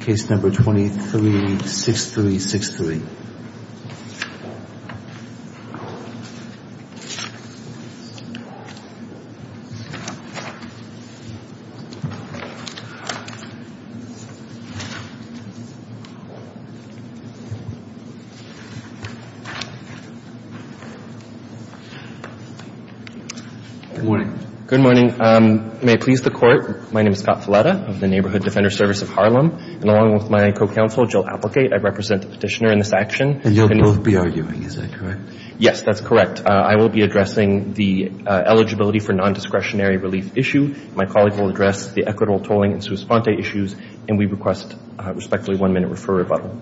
Case No. 23-6363. Good morning. Good morning. May it please the Court, my name is Scott Filetta of the Neighborhood Defender Service of Harlem, and along with my co-counsel Jill Applegate, I represent the petitioner in this action. And you'll both be arguing, is that correct? Yes, that's correct. I will be addressing the eligibility for non-discretionary relief issue. My colleague will address the equitable tolling and sua sponte issues, and we request a respectfully one-minute referral rebuttal.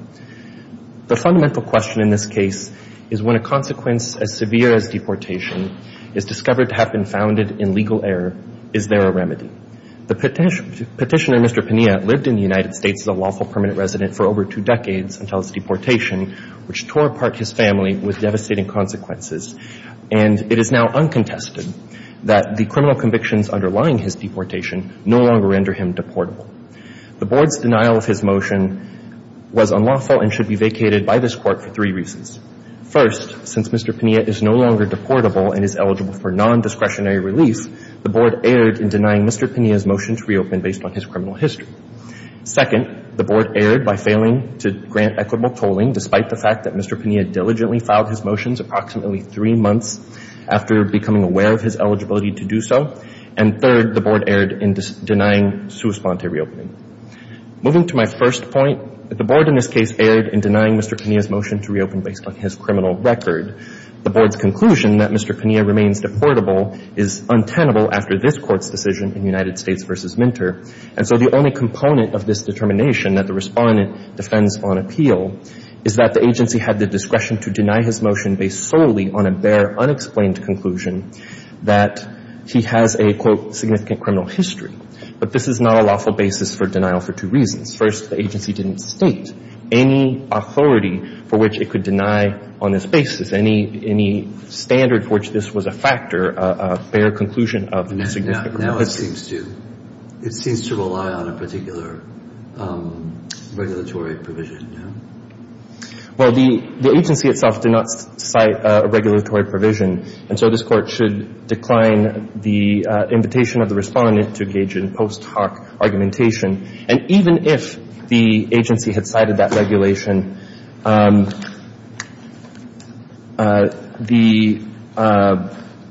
The fundamental question in this case is when a consequence as severe as deportation is discovered to have been founded in legal error, is there a remedy? The petitioner, Mr. Pinilla, lived in the United States as a lawful permanent resident for over two decades until his deportation, which tore apart his family with devastating consequences. And it is now uncontested that the criminal convictions underlying his deportation no longer render him deportable. The Board's denial of his motion was unlawful and should be vacated by this Court for three reasons. First, since Mr. Pinilla is no longer deportable and is eligible for non-discretionary release, the Board erred in denying Mr. Pinilla's motion to reopen based on his criminal history. Second, the Board erred by failing to grant equitable tolling despite the fact that Mr. Pinilla diligently filed his motions approximately three months after becoming aware of his eligibility to do so. And third, the Board erred in denying sua sponte reopening. Moving to my first point, the Board in this case erred in denying Mr. Pinilla's motion to reopen based on his criminal record. The Board's conclusion that Mr. Pinilla remains deportable is untenable after this Court's decision in United States v. Minter. And so the only component of this determination that the Respondent defends on appeal is that the agency had the discretion to deny his motion based solely on a bare, unexplained conclusion that he has a, quote, significant criminal history. But this is not a lawful basis for denial for two reasons. First, the agency didn't state any authority for which it could deny on this basis any standard for which this was a factor, a bare conclusion of a significant Now it seems to rely on a particular regulatory provision, yeah? Well, the agency itself did not cite a regulatory provision, and so this Court should decline the invitation of the Respondent to engage in post hoc argumentation. And even if the agency had cited that regulation, the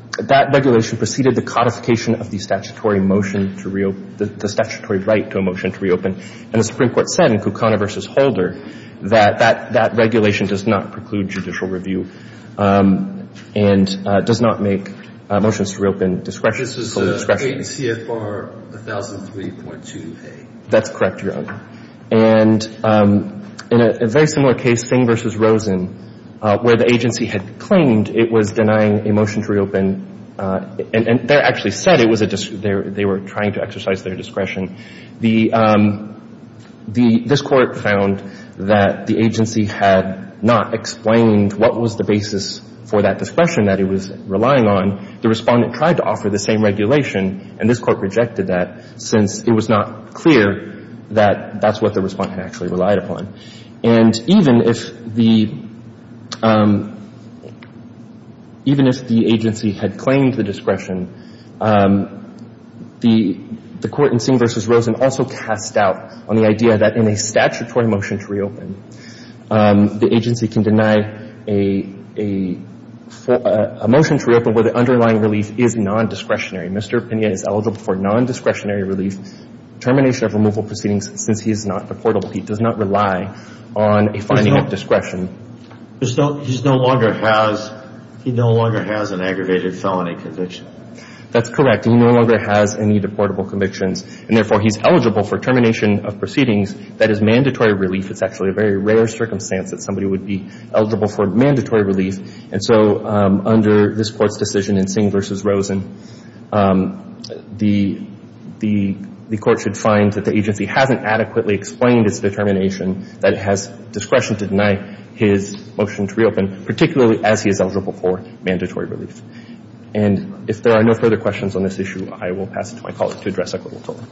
— that regulation preceded the codification of the statutory motion to reopen — the statutory right to a motion to reopen. And the Supreme Court said in Kucana v. Holder that that regulation does not preclude judicial review and does not make motions to reopen discretion solely discretionary. And the agency did not state in CFR 1003.2a. That's correct, Your Honor. And in a very similar case, Singh v. Rosen, where the agency had claimed it was denying a motion to reopen, and there actually said it was a — they were trying to exercise their discretion. The — this Court found that the agency had not explained what was the basis for that discretion that it was relying on. The Respondent tried to offer the same regulation, and this Court rejected that since it was not clear that that's what the Respondent actually relied upon. And even if the — even if the agency had claimed the discretion, the Court in Singh v. Rosen also cast doubt on the idea that in a statutory motion to reopen, the agency can deny a — a motion to reopen where the underlying relief is nondiscretionary. Mr. Pina is eligible for nondiscretionary relief, termination of removal proceedings, since he is not deportable. He does not rely on a finding of discretion. He's no longer has — he no longer has an aggravated felony conviction. That's correct. He no longer has any deportable convictions. And therefore, he's eligible for termination of proceedings that is mandatory relief. It's actually a very rare circumstance that somebody would be eligible for mandatory relief. And so under this Court's decision in Singh v. Rosen, the — the Court should find that the agency hasn't adequately explained its determination that it has discretion to deny his motion to reopen, particularly as he is eligible for mandatory relief. And if there are no further questions on this issue, I will pass it to my colleague to address equitable tolling.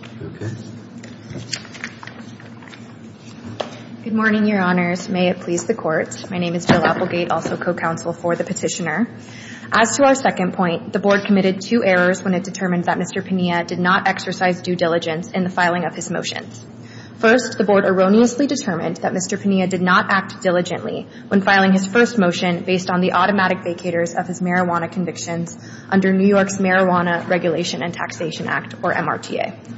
Good morning, Your Honors. May it please the Court. My name is Jill Applegate, also co-counsel for the Petitioner. As to our second point, the Board committed two errors when it determined that Mr. Pina did not exercise due diligence in the filing of his motion. First, the Board erroneously determined that Mr. Pina did not act diligently when filing his first motion based on the automatic vacators of his convictions under New York's Marijuana Regulation and Taxation Act, or MRTA.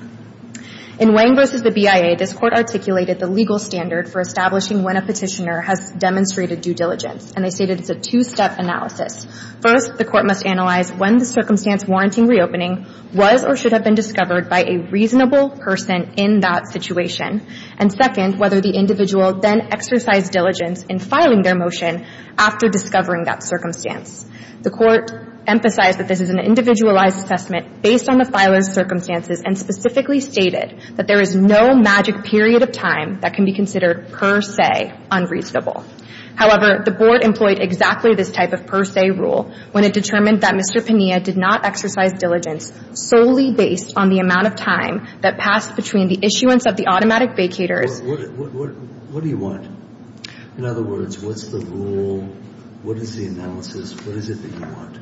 In Wang v. the BIA, this Court articulated the legal standard for establishing when a Petitioner has demonstrated due diligence, and they stated it's a two-step analysis. First, the Court must analyze when the circumstance warranting reopening was or should have been discovered by a reasonable person in that situation, and second, whether the individual then exercised diligence in filing their motion after discovering that circumstance. The Court emphasized that this is an individualized assessment based on the filer's circumstances, and specifically stated that there is no magic period of time that can be considered per se unreasonable. However, the Board employed exactly this type of per se rule when it determined that Mr. Pina did not exercise diligence solely based on the amount of time that passed between the issuance of the automatic vacators. What do you want? In other words, what's the rule? What is the analysis? What is it that you want?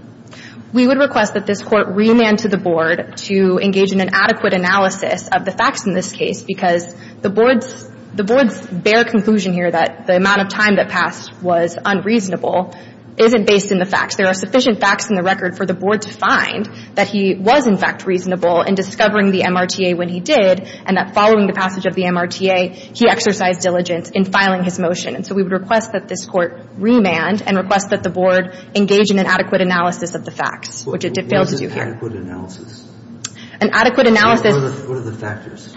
We would request that this Court remand to the Board to engage in an adequate analysis of the facts in this case, because the Board's bare conclusion here that the amount of time that passed was unreasonable isn't based in the facts. There are sufficient facts in the record for the Board to find that he was, in fact, reasonable in discovering the MRTA when he did, and that following the passage of the MRTA, he exercised diligence in filing his motion. And so we would request that this Court remand and request that the Board engage in an adequate analysis of the facts, which it failed to do here. What is an adequate analysis? An adequate analysis — What are the factors?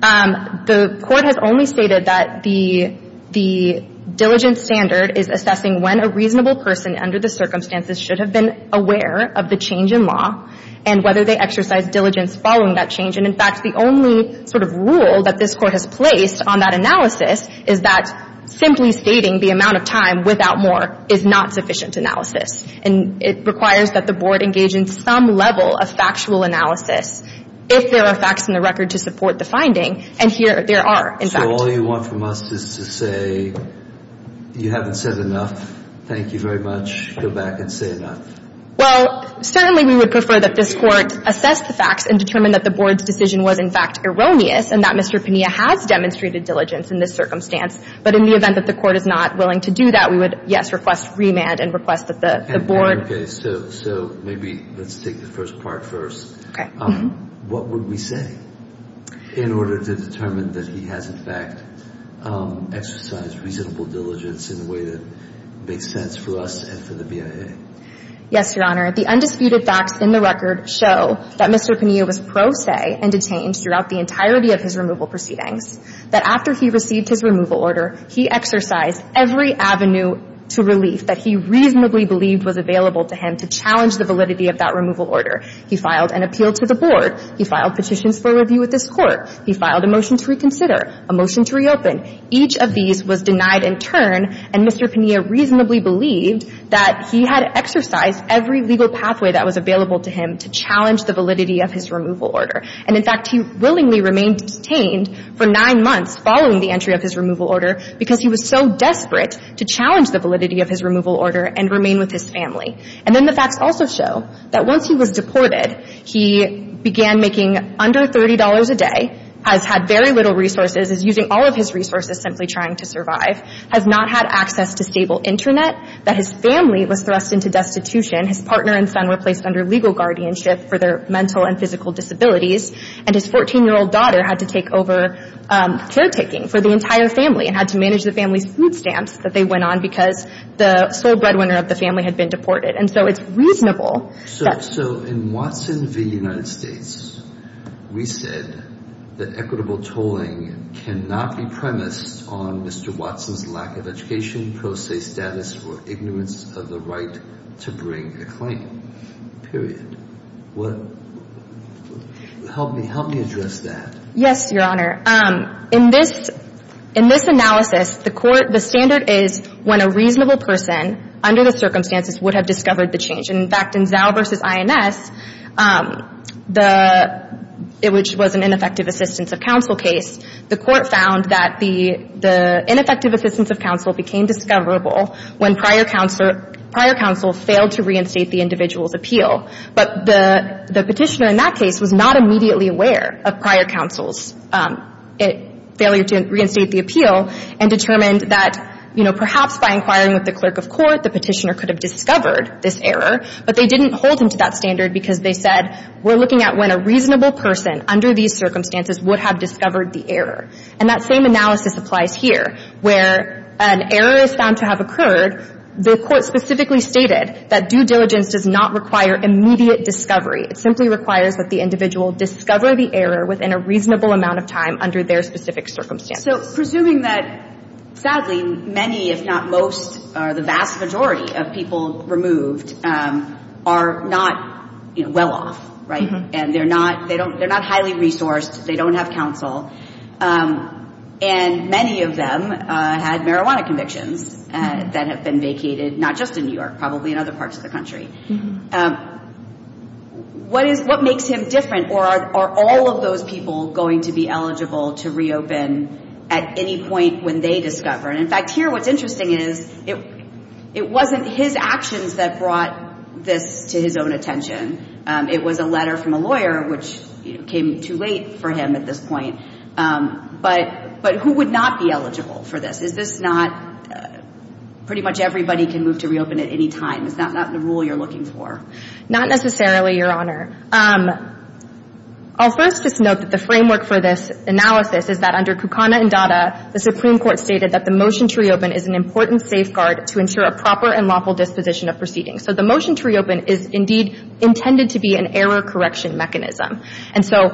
The Court has only stated that the diligence standard is assessing when a reasonable person under the circumstances should have been aware of the change in law and whether they exercised diligence following that change. And, in fact, the only sort of rule that this Court has placed on that analysis is that simply stating the amount of time without more is not sufficient analysis. And it requires that the Board engage in some level of factual analysis if there are facts in the record to support the finding. And here there are, in fact. So all you want from us is to say you haven't said enough. Thank you very much. Go back and say enough. Well, certainly we would prefer that this Court assess the facts and determine that the Board's decision was, in fact, erroneous and that Mr. Pena has demonstrated diligence in this circumstance. But in the event that the Court is not willing to do that, we would, yes, request remand and request that the Board — So maybe let's take the first part first. Okay. What would we say in order to determine that he has, in fact, exercised reasonable diligence in a way that makes sense for us and for the BIA? Yes, Your Honor. The undisputed facts in the record show that Mr. Pena was pro se and detained throughout the entirety of his removal proceedings, that after he received his removal order, he exercised every avenue to relief that he reasonably believed was available to him to challenge the validity of that removal order. He filed an appeal to the Board. He filed petitions for review with this Court. He filed a motion to reconsider, a motion to reopen. Each of these was denied in turn, and Mr. Pena reasonably believed that he had exercised every legal pathway that was available to him to challenge the validity of his removal order. And, in fact, he willingly remained detained for nine months following the entry of his removal order because he was so desperate to challenge the validity of his removal order and remain with his family. And then the facts also show that once he was deported, he began making under $30 a day, has had very little resources, is using all of his resources simply trying to survive, has not had access to stable Internet, that his family was thrust into destitution. His partner and son were placed under legal guardianship for their mental and physical disabilities, and his 14-year-old daughter had to take over caretaking for the entire family and had to manage the family's food stamps that they went on because the sole breadwinner of the family had been deported. And so it's reasonable that — So in Watson v. United States, we said that equitable tolling cannot be premised on Mr. Watson's lack of education, pro se status, or ignorance of the right to bring a claim, period. Help me address that. Yes, Your Honor. In this analysis, the court — the standard is when a reasonable person under the circumstances would have discovered the change. And, in fact, in Zao v. INS, the — which was an ineffective assistance of counsel case, the court found that the ineffective assistance of counsel became discoverable when prior counsel failed to reinstate the individual's appeal. But the petitioner in that case was not immediately aware of prior counsel's failure to reinstate the appeal and determined that, you know, perhaps by inquiring with the clerk of court, the petitioner could have discovered this error, but they didn't hold him to that standard because they said, we're looking at when a reasonable person under these circumstances would have discovered the error. And that same analysis applies here, where an error is found to have occurred. The court specifically stated that due diligence does not require immediate discovery. It simply requires that the individual discover the error within a reasonable amount of time under their specific circumstances. So presuming that, sadly, many, if not most, or the vast majority of people removed are not, you know, well off, right? Mm-hmm. And they're not highly resourced. They don't have counsel. And many of them had marijuana convictions that have been vacated, not just in New York, probably in other parts of the country. Mm-hmm. What makes him different, or are all of those people going to be eligible to reopen at any point when they discover? And, in fact, here what's interesting is it wasn't his actions that brought this to his own attention. It was a letter from a lawyer, which came too late for him at this point. But who would not be eligible for this? Is this not pretty much everybody can move to reopen at any time? Is that not the rule you're looking for? Not necessarily, Your Honor. I'll first just note that the framework for this analysis is that under Kukana and Dada, the Supreme Court stated that the motion to reopen is an important safeguard to ensure a proper and lawful disposition of proceedings. So the motion to reopen is indeed intended to be an error correction mechanism. And so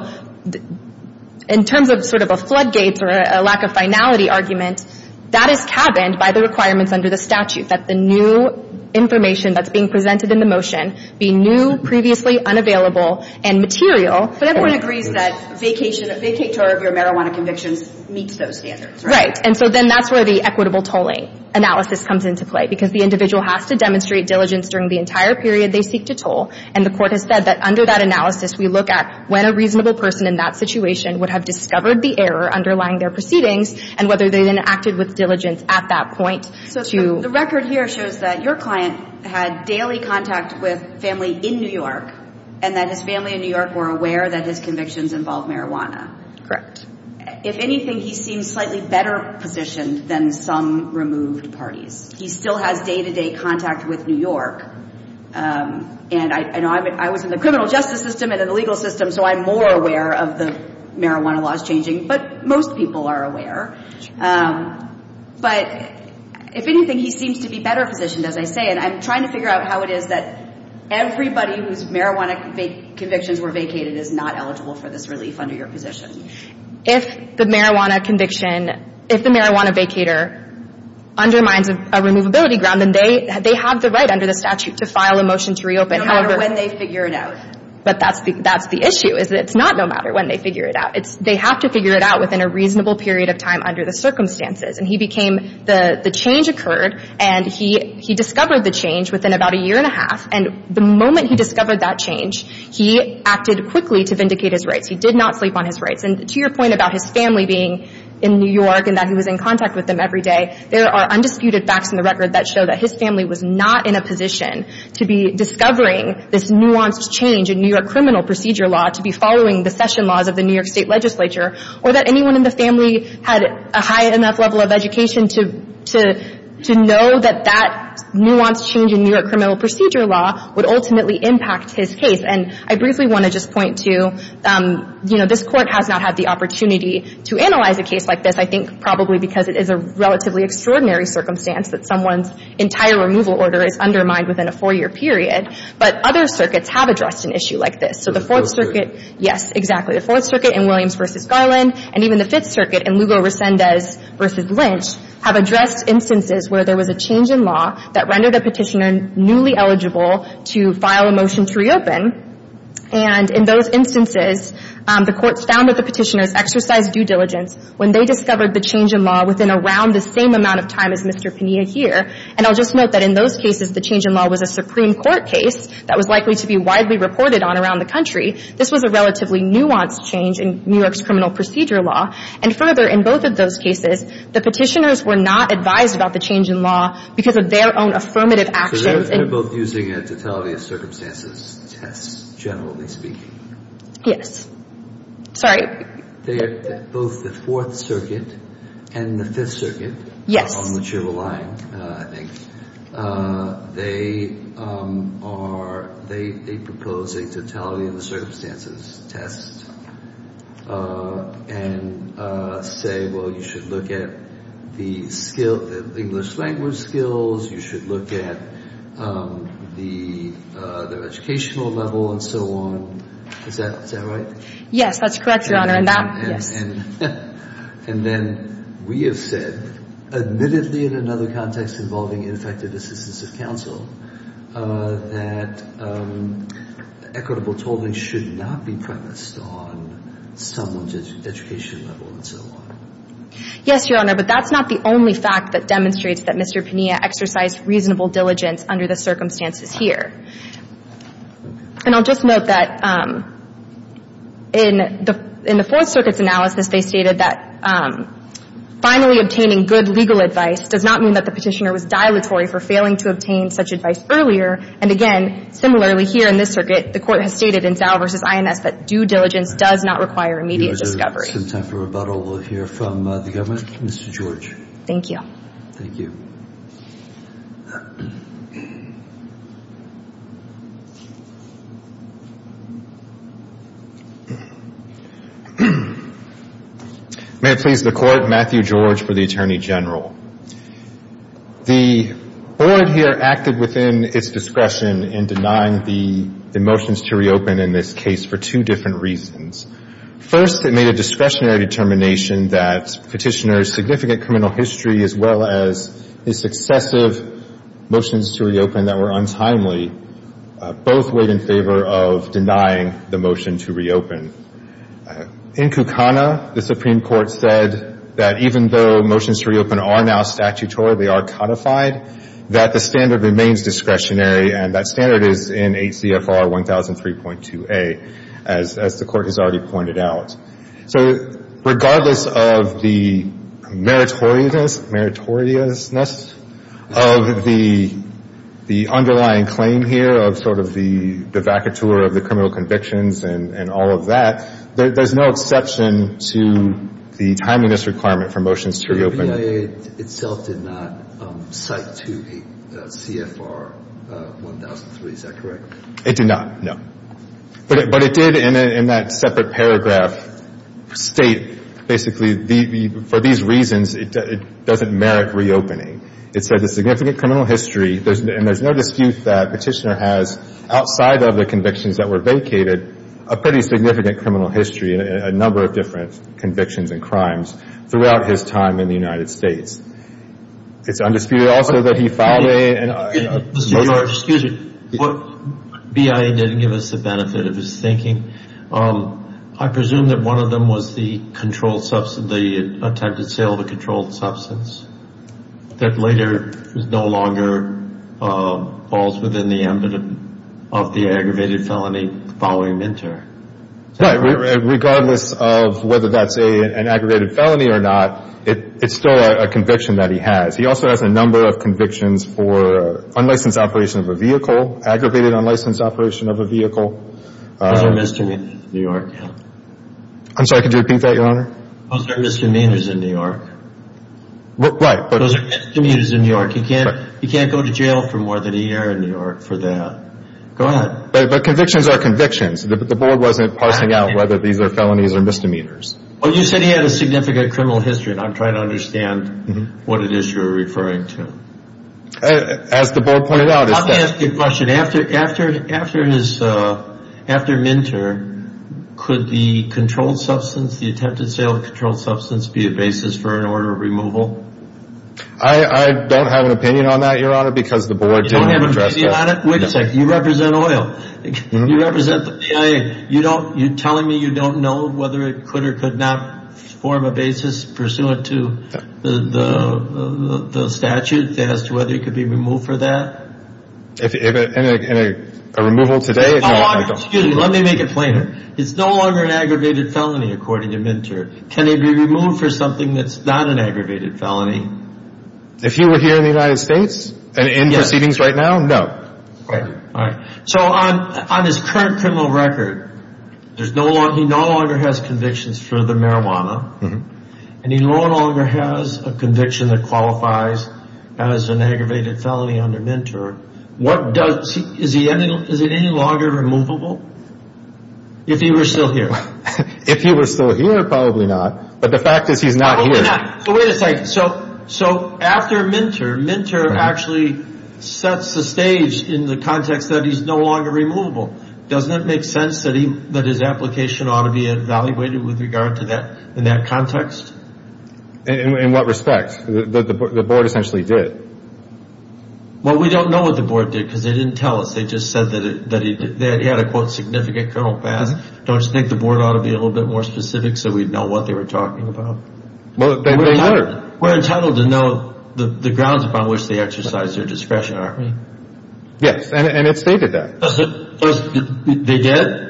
in terms of sort of a floodgates or a lack of finality argument, that is cabined by the requirements under the statute, that the new information that's being presented in the motion be new, previously unavailable, and material. But everyone agrees that vacation, a vacate tour of your marijuana convictions meets those standards, right? Right. And so then that's where the equitable tolling analysis comes into play, because the individual has to demonstrate diligence during the entire period they seek to toll. And the Court has said that under that analysis, we look at when a reasonable person in that situation would have discovered the error underlying their proceedings, and whether they then acted with diligence at that point to. So the record here shows that your client had daily contact with family in New York, and that his family in New York were aware that his convictions involve marijuana. Correct. If anything, he seems slightly better positioned than some removed parties. He still has day-to-day contact with New York. And I know I was in the criminal justice system and in the legal system, so I'm more aware of the marijuana laws changing. But most people are aware. But if anything, he seems to be better positioned, as I say. And I'm trying to figure out how it is that everybody whose marijuana convictions were vacated is not eligible for this relief under your position. If the marijuana conviction, if the marijuana vacator undermines a removability ground, then they have the right under the statute to file a motion to reopen. No matter when they figure it out. But that's the issue, is that it's not no matter when they figure it out. They have to figure it out within a reasonable period of time under the circumstances. And he became the change occurred, and he discovered the change within about a year and a half. And the moment he discovered that change, he acted quickly to vindicate his rights. He did not sleep on his rights. And to your point about his family being in New York and that he was in contact with them every day, there are undisputed facts in the record that show that his family was not in a position to be discovering this nuanced change in New York criminal procedure law, to be following the session laws of the New York State legislature, or that anyone in the family had a high enough level of education to know that that nuanced change in New York criminal procedure law would ultimately impact his case. And I briefly want to just point to, you know, this Court has not had the opportunity to analyze a case like this, I think probably because it is a relatively extraordinary circumstance that someone's entire removal order is undermined within a four-year period. But other circuits have addressed an issue like this. So the Fourth Circuit — Yes, exactly. The Fourth Circuit in Williams v. Garland, and even the Fifth Circuit in Lugo-Resendez v. Lynch, have addressed instances where there was a change in law that rendered a petitioner newly eligible to file a motion to reopen. And in those instances, the courts found that the petitioners exercised due diligence when they discovered the change in law within around the same amount of time as Mr. Pena here. And I'll just note that in those cases, the change in law was a Supreme Court case that was likely to be widely reported on around the country. This was a relatively nuanced change in New York's criminal procedure law. And further, in both of those cases, the petitioners were not advised about the change in law because of their own affirmative actions and — So they're both using a totality of circumstances test, generally speaking. Yes. Sorry? They are — both the Fourth Circuit and the Fifth Circuit — Yes. — are on the Chival line, I think. They are — they propose a totality of the circumstances test and say, well, you should look at the English language skills. You should look at the educational level and so on. Is that right? Yes. That's correct, Your Honor. And that — yes. And then we have said, admittedly, in another context involving ineffective assistance of counsel, that equitable tolling should not be premised on someone's education level and so on. Yes, Your Honor. But that's not the only fact that demonstrates that Mr. Pania exercised reasonable diligence under the circumstances here. And I'll just note that in the Fourth Circuit's analysis, they stated that finally obtaining good legal advice does not mean that the petitioner was dilatory for failing to obtain such advice earlier. And again, similarly here in this circuit, the Court has stated in Dow v. INS that due diligence does not require immediate discovery. We'll take some time for rebuttal. We'll hear from the government. Mr. George. Thank you. Thank you. May it please the Court, Matthew George for the Attorney General. The Board here acted within its discretion in denying the motions to reopen in this case for two different reasons. First, it made a discretionary determination that petitioners' significant criminal history as well as the successive motions to reopen that were untimely both weighed in favor of denying the motion to reopen. In Kukana, the Supreme Court said that even though motions to reopen are now statutory, they are codified, that the standard remains discretionary, and that standard is in So regardless of the meritoriousness of the underlying claim here of sort of the vacatur of the criminal convictions and all of that, there's no exception to the timeliness requirement for motions to reopen. The BIA itself did not cite to the CFR 1003. Is that correct? It did not, no. But it did, in that separate paragraph, state basically for these reasons, it doesn't merit reopening. It said the significant criminal history, and there's no dispute that Petitioner has, outside of the convictions that were vacated, a pretty significant criminal history and a number of different convictions and crimes throughout his time in the United States. It's undisputed also that he filed a motion. Excuse me. BIA didn't give us the benefit of his thinking. I presume that one of them was the controlled substance, the attempted sale of a controlled substance that later no longer falls within the ambit of the aggravated felony following MNTER. Right. Regardless of whether that's an aggravated felony or not, it's still a conviction that he has. He also has a number of convictions for unlicensed operation of a vehicle, aggravated unlicensed operation of a vehicle. Those are misdemeanors in New York, yeah. I'm sorry, could you repeat that, Your Honor? Those are misdemeanors in New York. Right. Those are misdemeanors in New York. You can't go to jail for more than a year in New York for that. Go ahead. But convictions are convictions. The board wasn't parsing out whether these are felonies or misdemeanors. Well, you said he had a significant criminal history, and I'm trying to understand what it is you're referring to. As the board pointed out. Let me ask you a question. After MNTER, could the controlled substance, the attempted sale of controlled substance, be a basis for an order of removal? I don't have an opinion on that, Your Honor, because the board didn't address that. You don't have an opinion on it? Wait a second. You represent oil. You represent the PA. You're telling me you don't know whether it could or could not form a basis pursuant to the statute as to whether it could be removed for that? In a removal today? Excuse me. Let me make it plainer. It's no longer an aggravated felony, according to MNTER. Can it be removed for something that's not an aggravated felony? If he were here in the United States and in proceedings right now, no. All right. On his current criminal record, he no longer has convictions for the marijuana, and he no longer has a conviction that qualifies as an aggravated felony under Is it any longer removable if he were still here? If he were still here, probably not. But the fact is he's not here. Wait a second. So after MNTER, MNTER actually sets the stage in the context that he's no longer removable. Doesn't it make sense that his application ought to be evaluated with regard to that in that context? In what respect? The board essentially did. Well, we don't know what the board did because they didn't tell us. They just said that he had a, quote, significant criminal past. Don't you think the board ought to be a little bit more specific so we'd know what they were talking about? We're entitled to know the grounds upon which they exercised their discretion, aren't we? Yes, and it stated that. They did?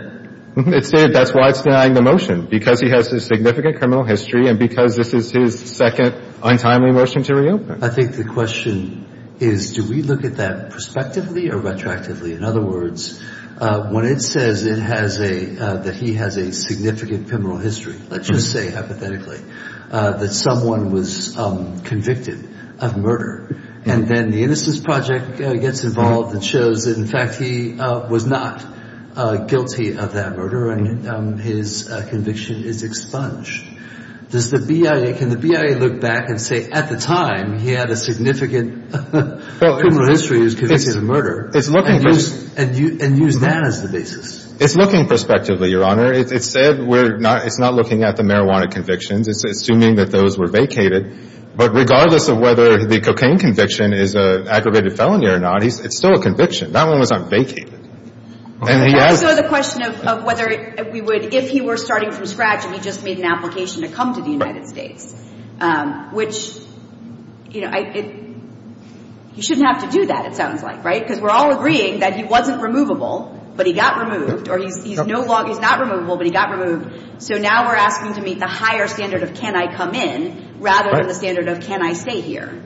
It stated that's why it's denying the motion, because he has a significant criminal history and because this is his second untimely motion to reopen. I think the question is, do we look at that prospectively or retroactively? In other words, when it says that he has a significant criminal history, let's just say hypothetically, that someone was convicted of murder. And then the Innocence Project gets involved and shows that, in fact, he was not guilty of that murder and his conviction is expunged. Does the BIA, can the BIA look back and say at the time he had a significant criminal history and was convicted of murder and use that as the basis? It's looking prospectively, Your Honor. It said it's not looking at the marijuana convictions. It's assuming that those were vacated. But regardless of whether the cocaine conviction is an aggravated felony or not, it's still a conviction. That one was not vacated. So the question of whether we would, if he were starting from scratch and he just made an application to come to the United States, which, you know, you shouldn't have to do that, it sounds like, right? Because we're all agreeing that he wasn't removable, but he got removed. Or he's not removable, but he got removed. So now we're asking to meet the higher standard of can I come in rather than the standard of can I stay here.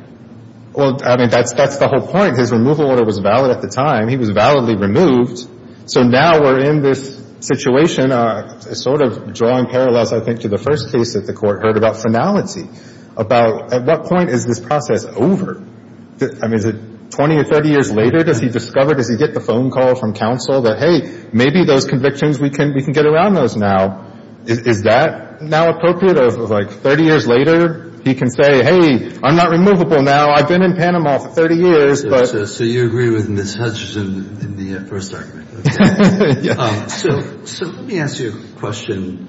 Well, I mean, that's the whole point. His removal order was valid at the time. He was validly removed. So now we're in this situation, sort of drawing parallels, I think, to the first case that the Court heard about finality, about at what point is this process over? I mean, is it 20 or 30 years later? Does he discover, does he get the phone call from counsel that, hey, maybe those convictions we can get around those now? Is that now appropriate of, like, 30 years later? He can say, hey, I'm not removable now. I've been in Panama for 30 years. So you agree with Ms. Hutchison in the first argument. So let me ask you a question.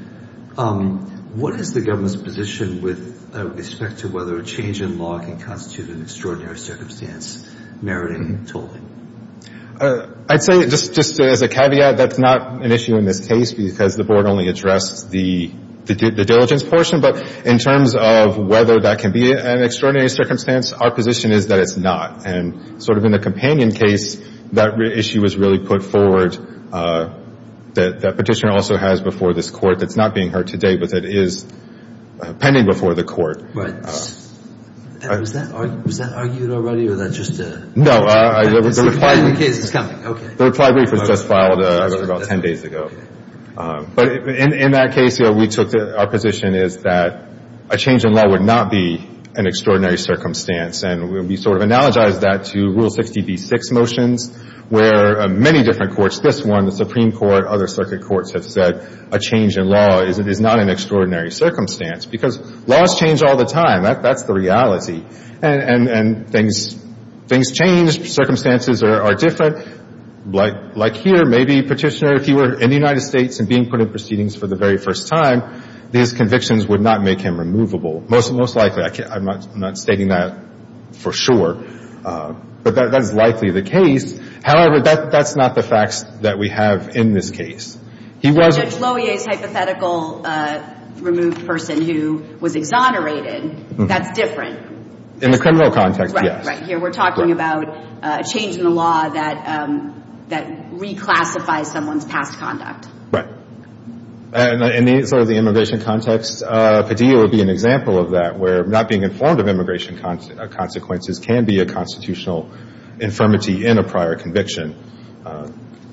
What is the government's position with respect to whether a change in law can constitute an extraordinary circumstance meriting tolling? I'd say, just as a caveat, that's not an issue in this case because the Board only addressed the diligence portion. But in terms of whether that can be an extraordinary circumstance, our position is that it's not. And sort of in the companion case, that issue was really put forward. That Petitioner also has before this Court that's not being heard today, but that is pending before the Court. Right. And was that argued already, or that's just a- No. It's a companion case. It's coming. Okay. The reply brief was just filed about 10 days ago. But in that case, you know, we took our position is that a change in law would not be an extraordinary circumstance. And we sort of analogized that to Rule 60b-6 motions where many different courts, this one, the Supreme Court, other circuit courts have said a change in law is not an extraordinary circumstance because laws change all the time. That's the reality. And things change. Circumstances are different. Like here, maybe Petitioner, if he were in the United States and being put in proceedings for the very first time, these convictions would not make him removable. Most likely. I'm not stating that for sure. But that is likely the case. However, that's not the facts that we have in this case. In Judge Lohier's hypothetical removed person who was exonerated, that's different. In the criminal context, yes. Right, right. Here we're talking about a change in the law that reclassifies someone's past conduct. Right. And in sort of the immigration context, Padilla would be an example of that, where not being informed of immigration consequences can be a constitutional infirmity in a prior conviction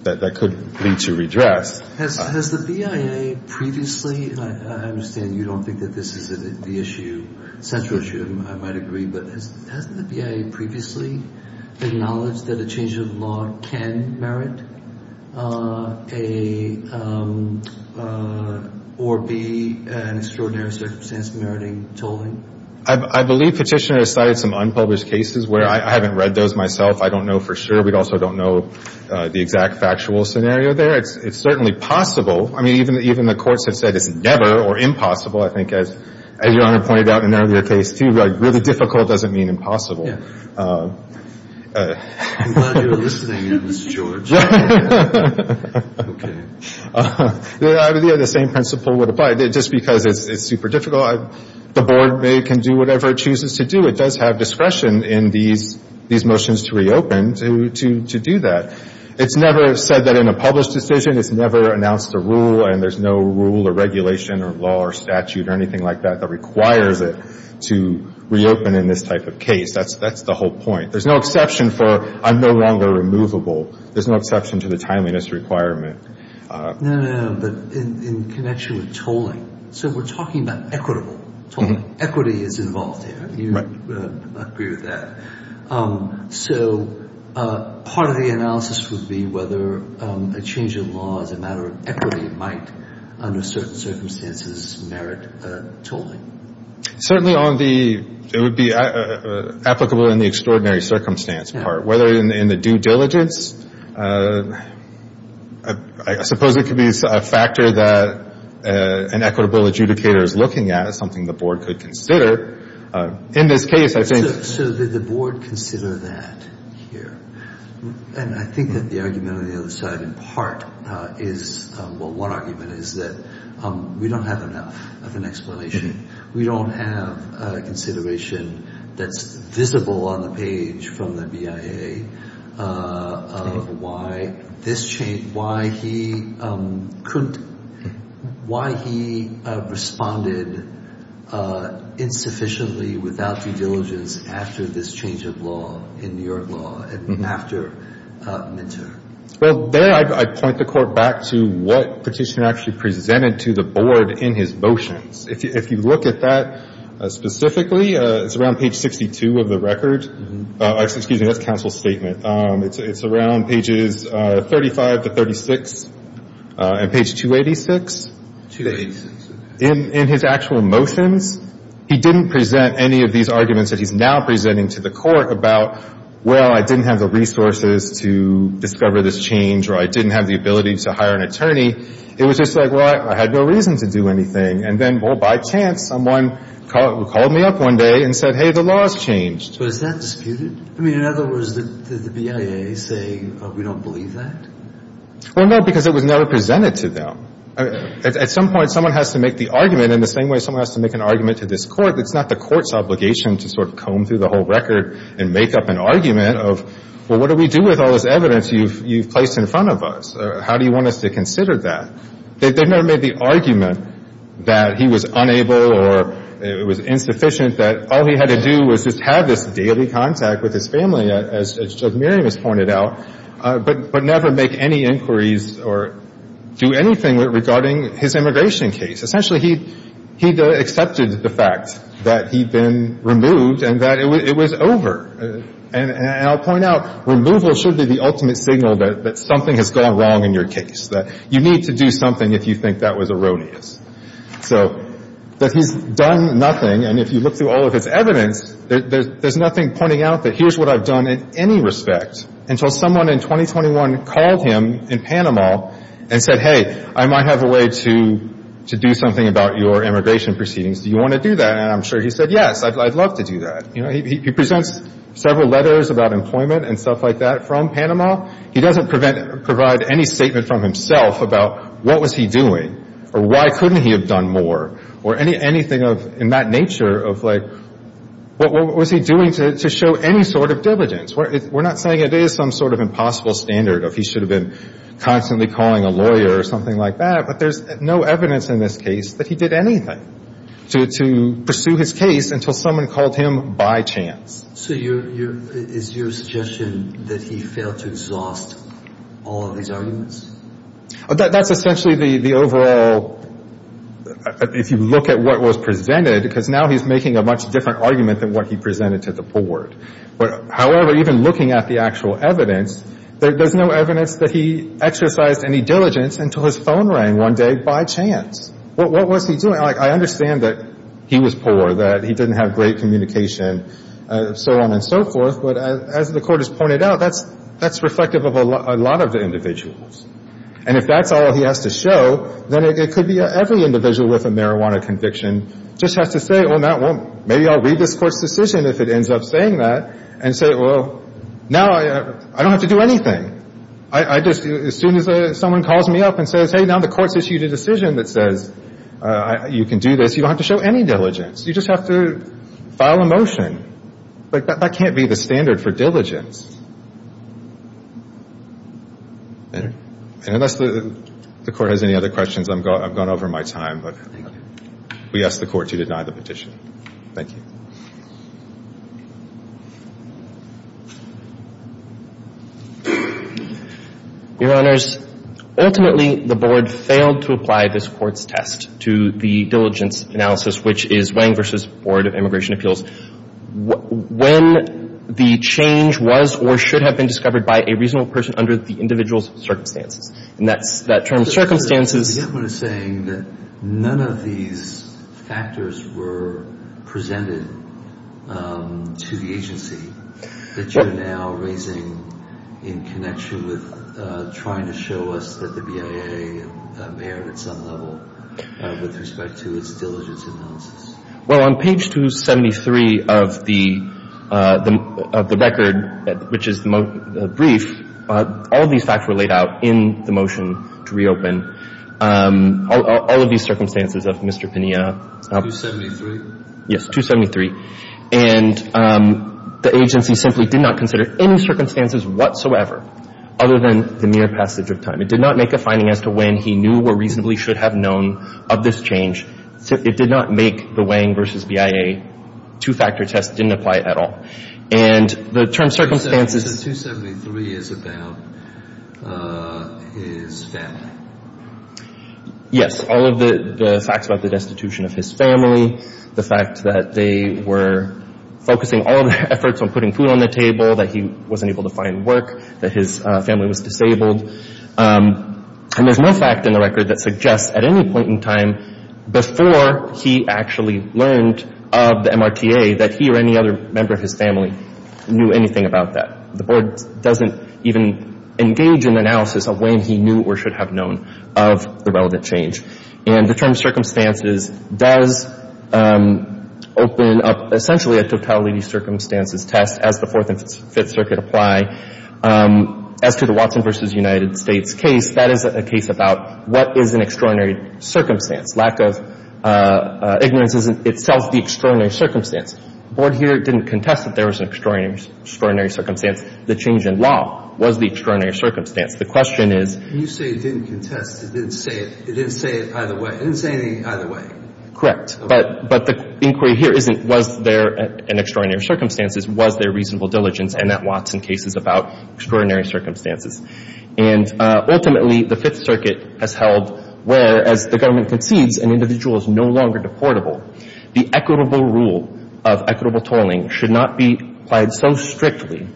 that could lead to redress. Has the BIA previously, and I understand you don't think that this is the issue, central issue, I might agree, but has the BIA previously acknowledged that a change in law can merit or be an extraordinary circumstance meriting tolling? I believe Petitioner has cited some unpublished cases where I haven't read those myself. I don't know for sure. We also don't know the exact factual scenario there. It's certainly possible. I mean, even the courts have said it's never or impossible. I think, as Your Honor pointed out in an earlier case, too, really difficult doesn't mean impossible. I'm glad you're listening in, Mr. George. Okay. The same principle would apply. Just because it's super difficult, the board can do whatever it chooses to do. It does have discretion in these motions to reopen to do that. It's never said that in a published decision. It's never announced a rule, and there's no rule or regulation or law or statute or anything like that that requires it to reopen in this type of case. That's the whole point. There's no exception for I'm no longer removable. There's no exception to the timeliness requirement. No, no, no, but in connection with tolling, so we're talking about equitable tolling. Equity is involved here. I agree with that. So part of the analysis would be whether a change in law as a matter of equity might, under certain circumstances, merit tolling. Certainly on the it would be applicable in the extraordinary circumstance part. Whether in the due diligence, I suppose it could be a factor that an equitable adjudicator is looking at, something the board could consider. In this case, I think. So did the board consider that here? And I think that the argument on the other side in part is, well, one argument is that we don't have enough of an explanation. We don't have a consideration that's visible on the page from the BIA of why this change, why he couldn't, why he responded insufficiently without due diligence after this change of law in New York law, after midterm. Well, there I point the Court back to what Petitioner actually presented to the board in his motions. If you look at that specifically, it's around page 62 of the record. Excuse me, that's counsel's statement. It's around pages 35 to 36 and page 286. In his actual motions, he didn't present any of these arguments that he's now presenting to the Court about, well, I didn't have the resources to discover this change or I didn't have the ability to hire an attorney. It was just like, well, I had no reason to do anything. And then, well, by chance, someone called me up one day and said, hey, the law's changed. But is that disputed? I mean, in other words, did the BIA say we don't believe that? Well, no, because it was never presented to them. At some point, someone has to make the argument in the same way someone has to make an argument to this Court. It's not the Court's obligation to sort of comb through the whole record and make up an argument of, well, what do we do with all this evidence you've placed in front of us? How do you want us to consider that? They've never made the argument that he was unable or it was insufficient, that all he had to do was just have this daily contact with his family, as Judge Miriam has pointed out, but never make any inquiries or do anything regarding his immigration case. Essentially, he accepted the fact that he'd been removed and that it was over. And I'll point out, removal should be the ultimate signal that something has gone wrong in your case, that you need to do something if you think that was erroneous. So that he's done nothing, and if you look through all of his evidence, there's nothing pointing out that here's what I've done in any respect until someone in 2021 called him in Panama and said, hey, I might have a way to do something about your immigration proceedings. Do you want to do that? And I'm sure he said, yes, I'd love to do that. You know, he presents several letters about employment and stuff like that from Panama. He doesn't provide any statement from himself about what was he doing or why couldn't he have done more or anything of that nature of, like, what was he doing to show any sort of diligence. We're not saying it is some sort of impossible standard of he should have been constantly calling a lawyer or something like that, but there's no evidence in this case that he did anything to pursue his case until someone called him by chance. So is your suggestion that he failed to exhaust all of these arguments? That's essentially the overall, if you look at what was presented, because now he's making a much different argument than what he presented to the court. However, even looking at the actual evidence, there's no evidence that he exercised any diligence until his phone rang one day by chance. What was he doing? I understand that he was poor, that he didn't have great communication, so on and so forth. But as the court has pointed out, that's reflective of a lot of the individuals. And if that's all he has to show, then it could be every individual with a marijuana conviction just has to say, well, maybe I'll read this court's decision if it ends up saying that, and say, well, now I don't have to do anything. As soon as someone calls me up and says, hey, now the court's issued a decision that says you can do this, you don't have to show any diligence. You just have to file a motion. That can't be the standard for diligence. Unless the court has any other questions, I've gone over my time. We ask the court to deny the petition. Thank you. Your Honors, ultimately, the Board failed to apply this court's test to the diligence analysis, which is Wang v. Board of Immigration Appeals. When the change was or should have been discovered by a reasonable person under the individual's circumstances, and that's that term, circumstances. The government is saying that none of these factors were presented to the agency that you're now raising in connection with trying to show us that the BIA may have, at some level, with respect to its diligence analysis. Well, on page 273 of the record, which is the brief, all these facts were laid out in the motion to reopen. All of these circumstances of Mr. Pena. 273? Yes, 273. And the agency simply did not consider any circumstances whatsoever other than the mere passage of time. It did not make a finding as to when he knew or reasonably should have known of this change. It did not make the Wang v. BIA two-factor test didn't apply at all. And the term circumstances. So 273 is about his family? Yes. All of the facts about the destitution of his family, the fact that they were focusing all of their efforts on putting food on the table, that he wasn't able to find work, that his family was disabled. And there's no fact in the record that suggests at any point in time before he actually learned of the MRTA that he or any other member of his family knew anything about that. The Board doesn't even engage in analysis of when he knew or should have known of the relevant change. And the term circumstances does open up essentially a totality circumstances test, as the Fourth and Fifth Circuit apply. As to the Watson v. United States case, that is a case about what is an extraordinary circumstance, lack of ignorance isn't itself the extraordinary circumstance. The Board here didn't contest that there was an extraordinary circumstance. The change in law was the extraordinary circumstance. The question is — When you say it didn't contest, it didn't say it either way. It didn't say anything either way. Correct. But the inquiry here isn't was there an extraordinary circumstance. It was their reasonable diligence. And that Watson case is about extraordinary circumstances. And ultimately, the Fifth Circuit has held where, as the government concedes an individual is no longer deportable, the equitable rule of equitable tolling should not be applied so strictly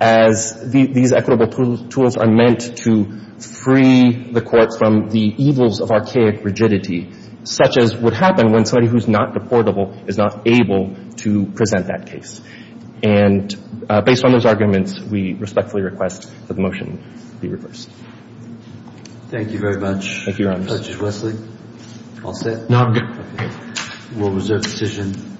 as these equitable tools are meant to free the court from the evils of archaic rigidity, such as would happen when somebody who's not deportable is not able to present that case. And based on those arguments, we respectfully request that the motion be reversed. Thank you very much. Thank you, Your Honor. Judge Wesley, I'll say it. No, I'm good. We'll reserve the decision.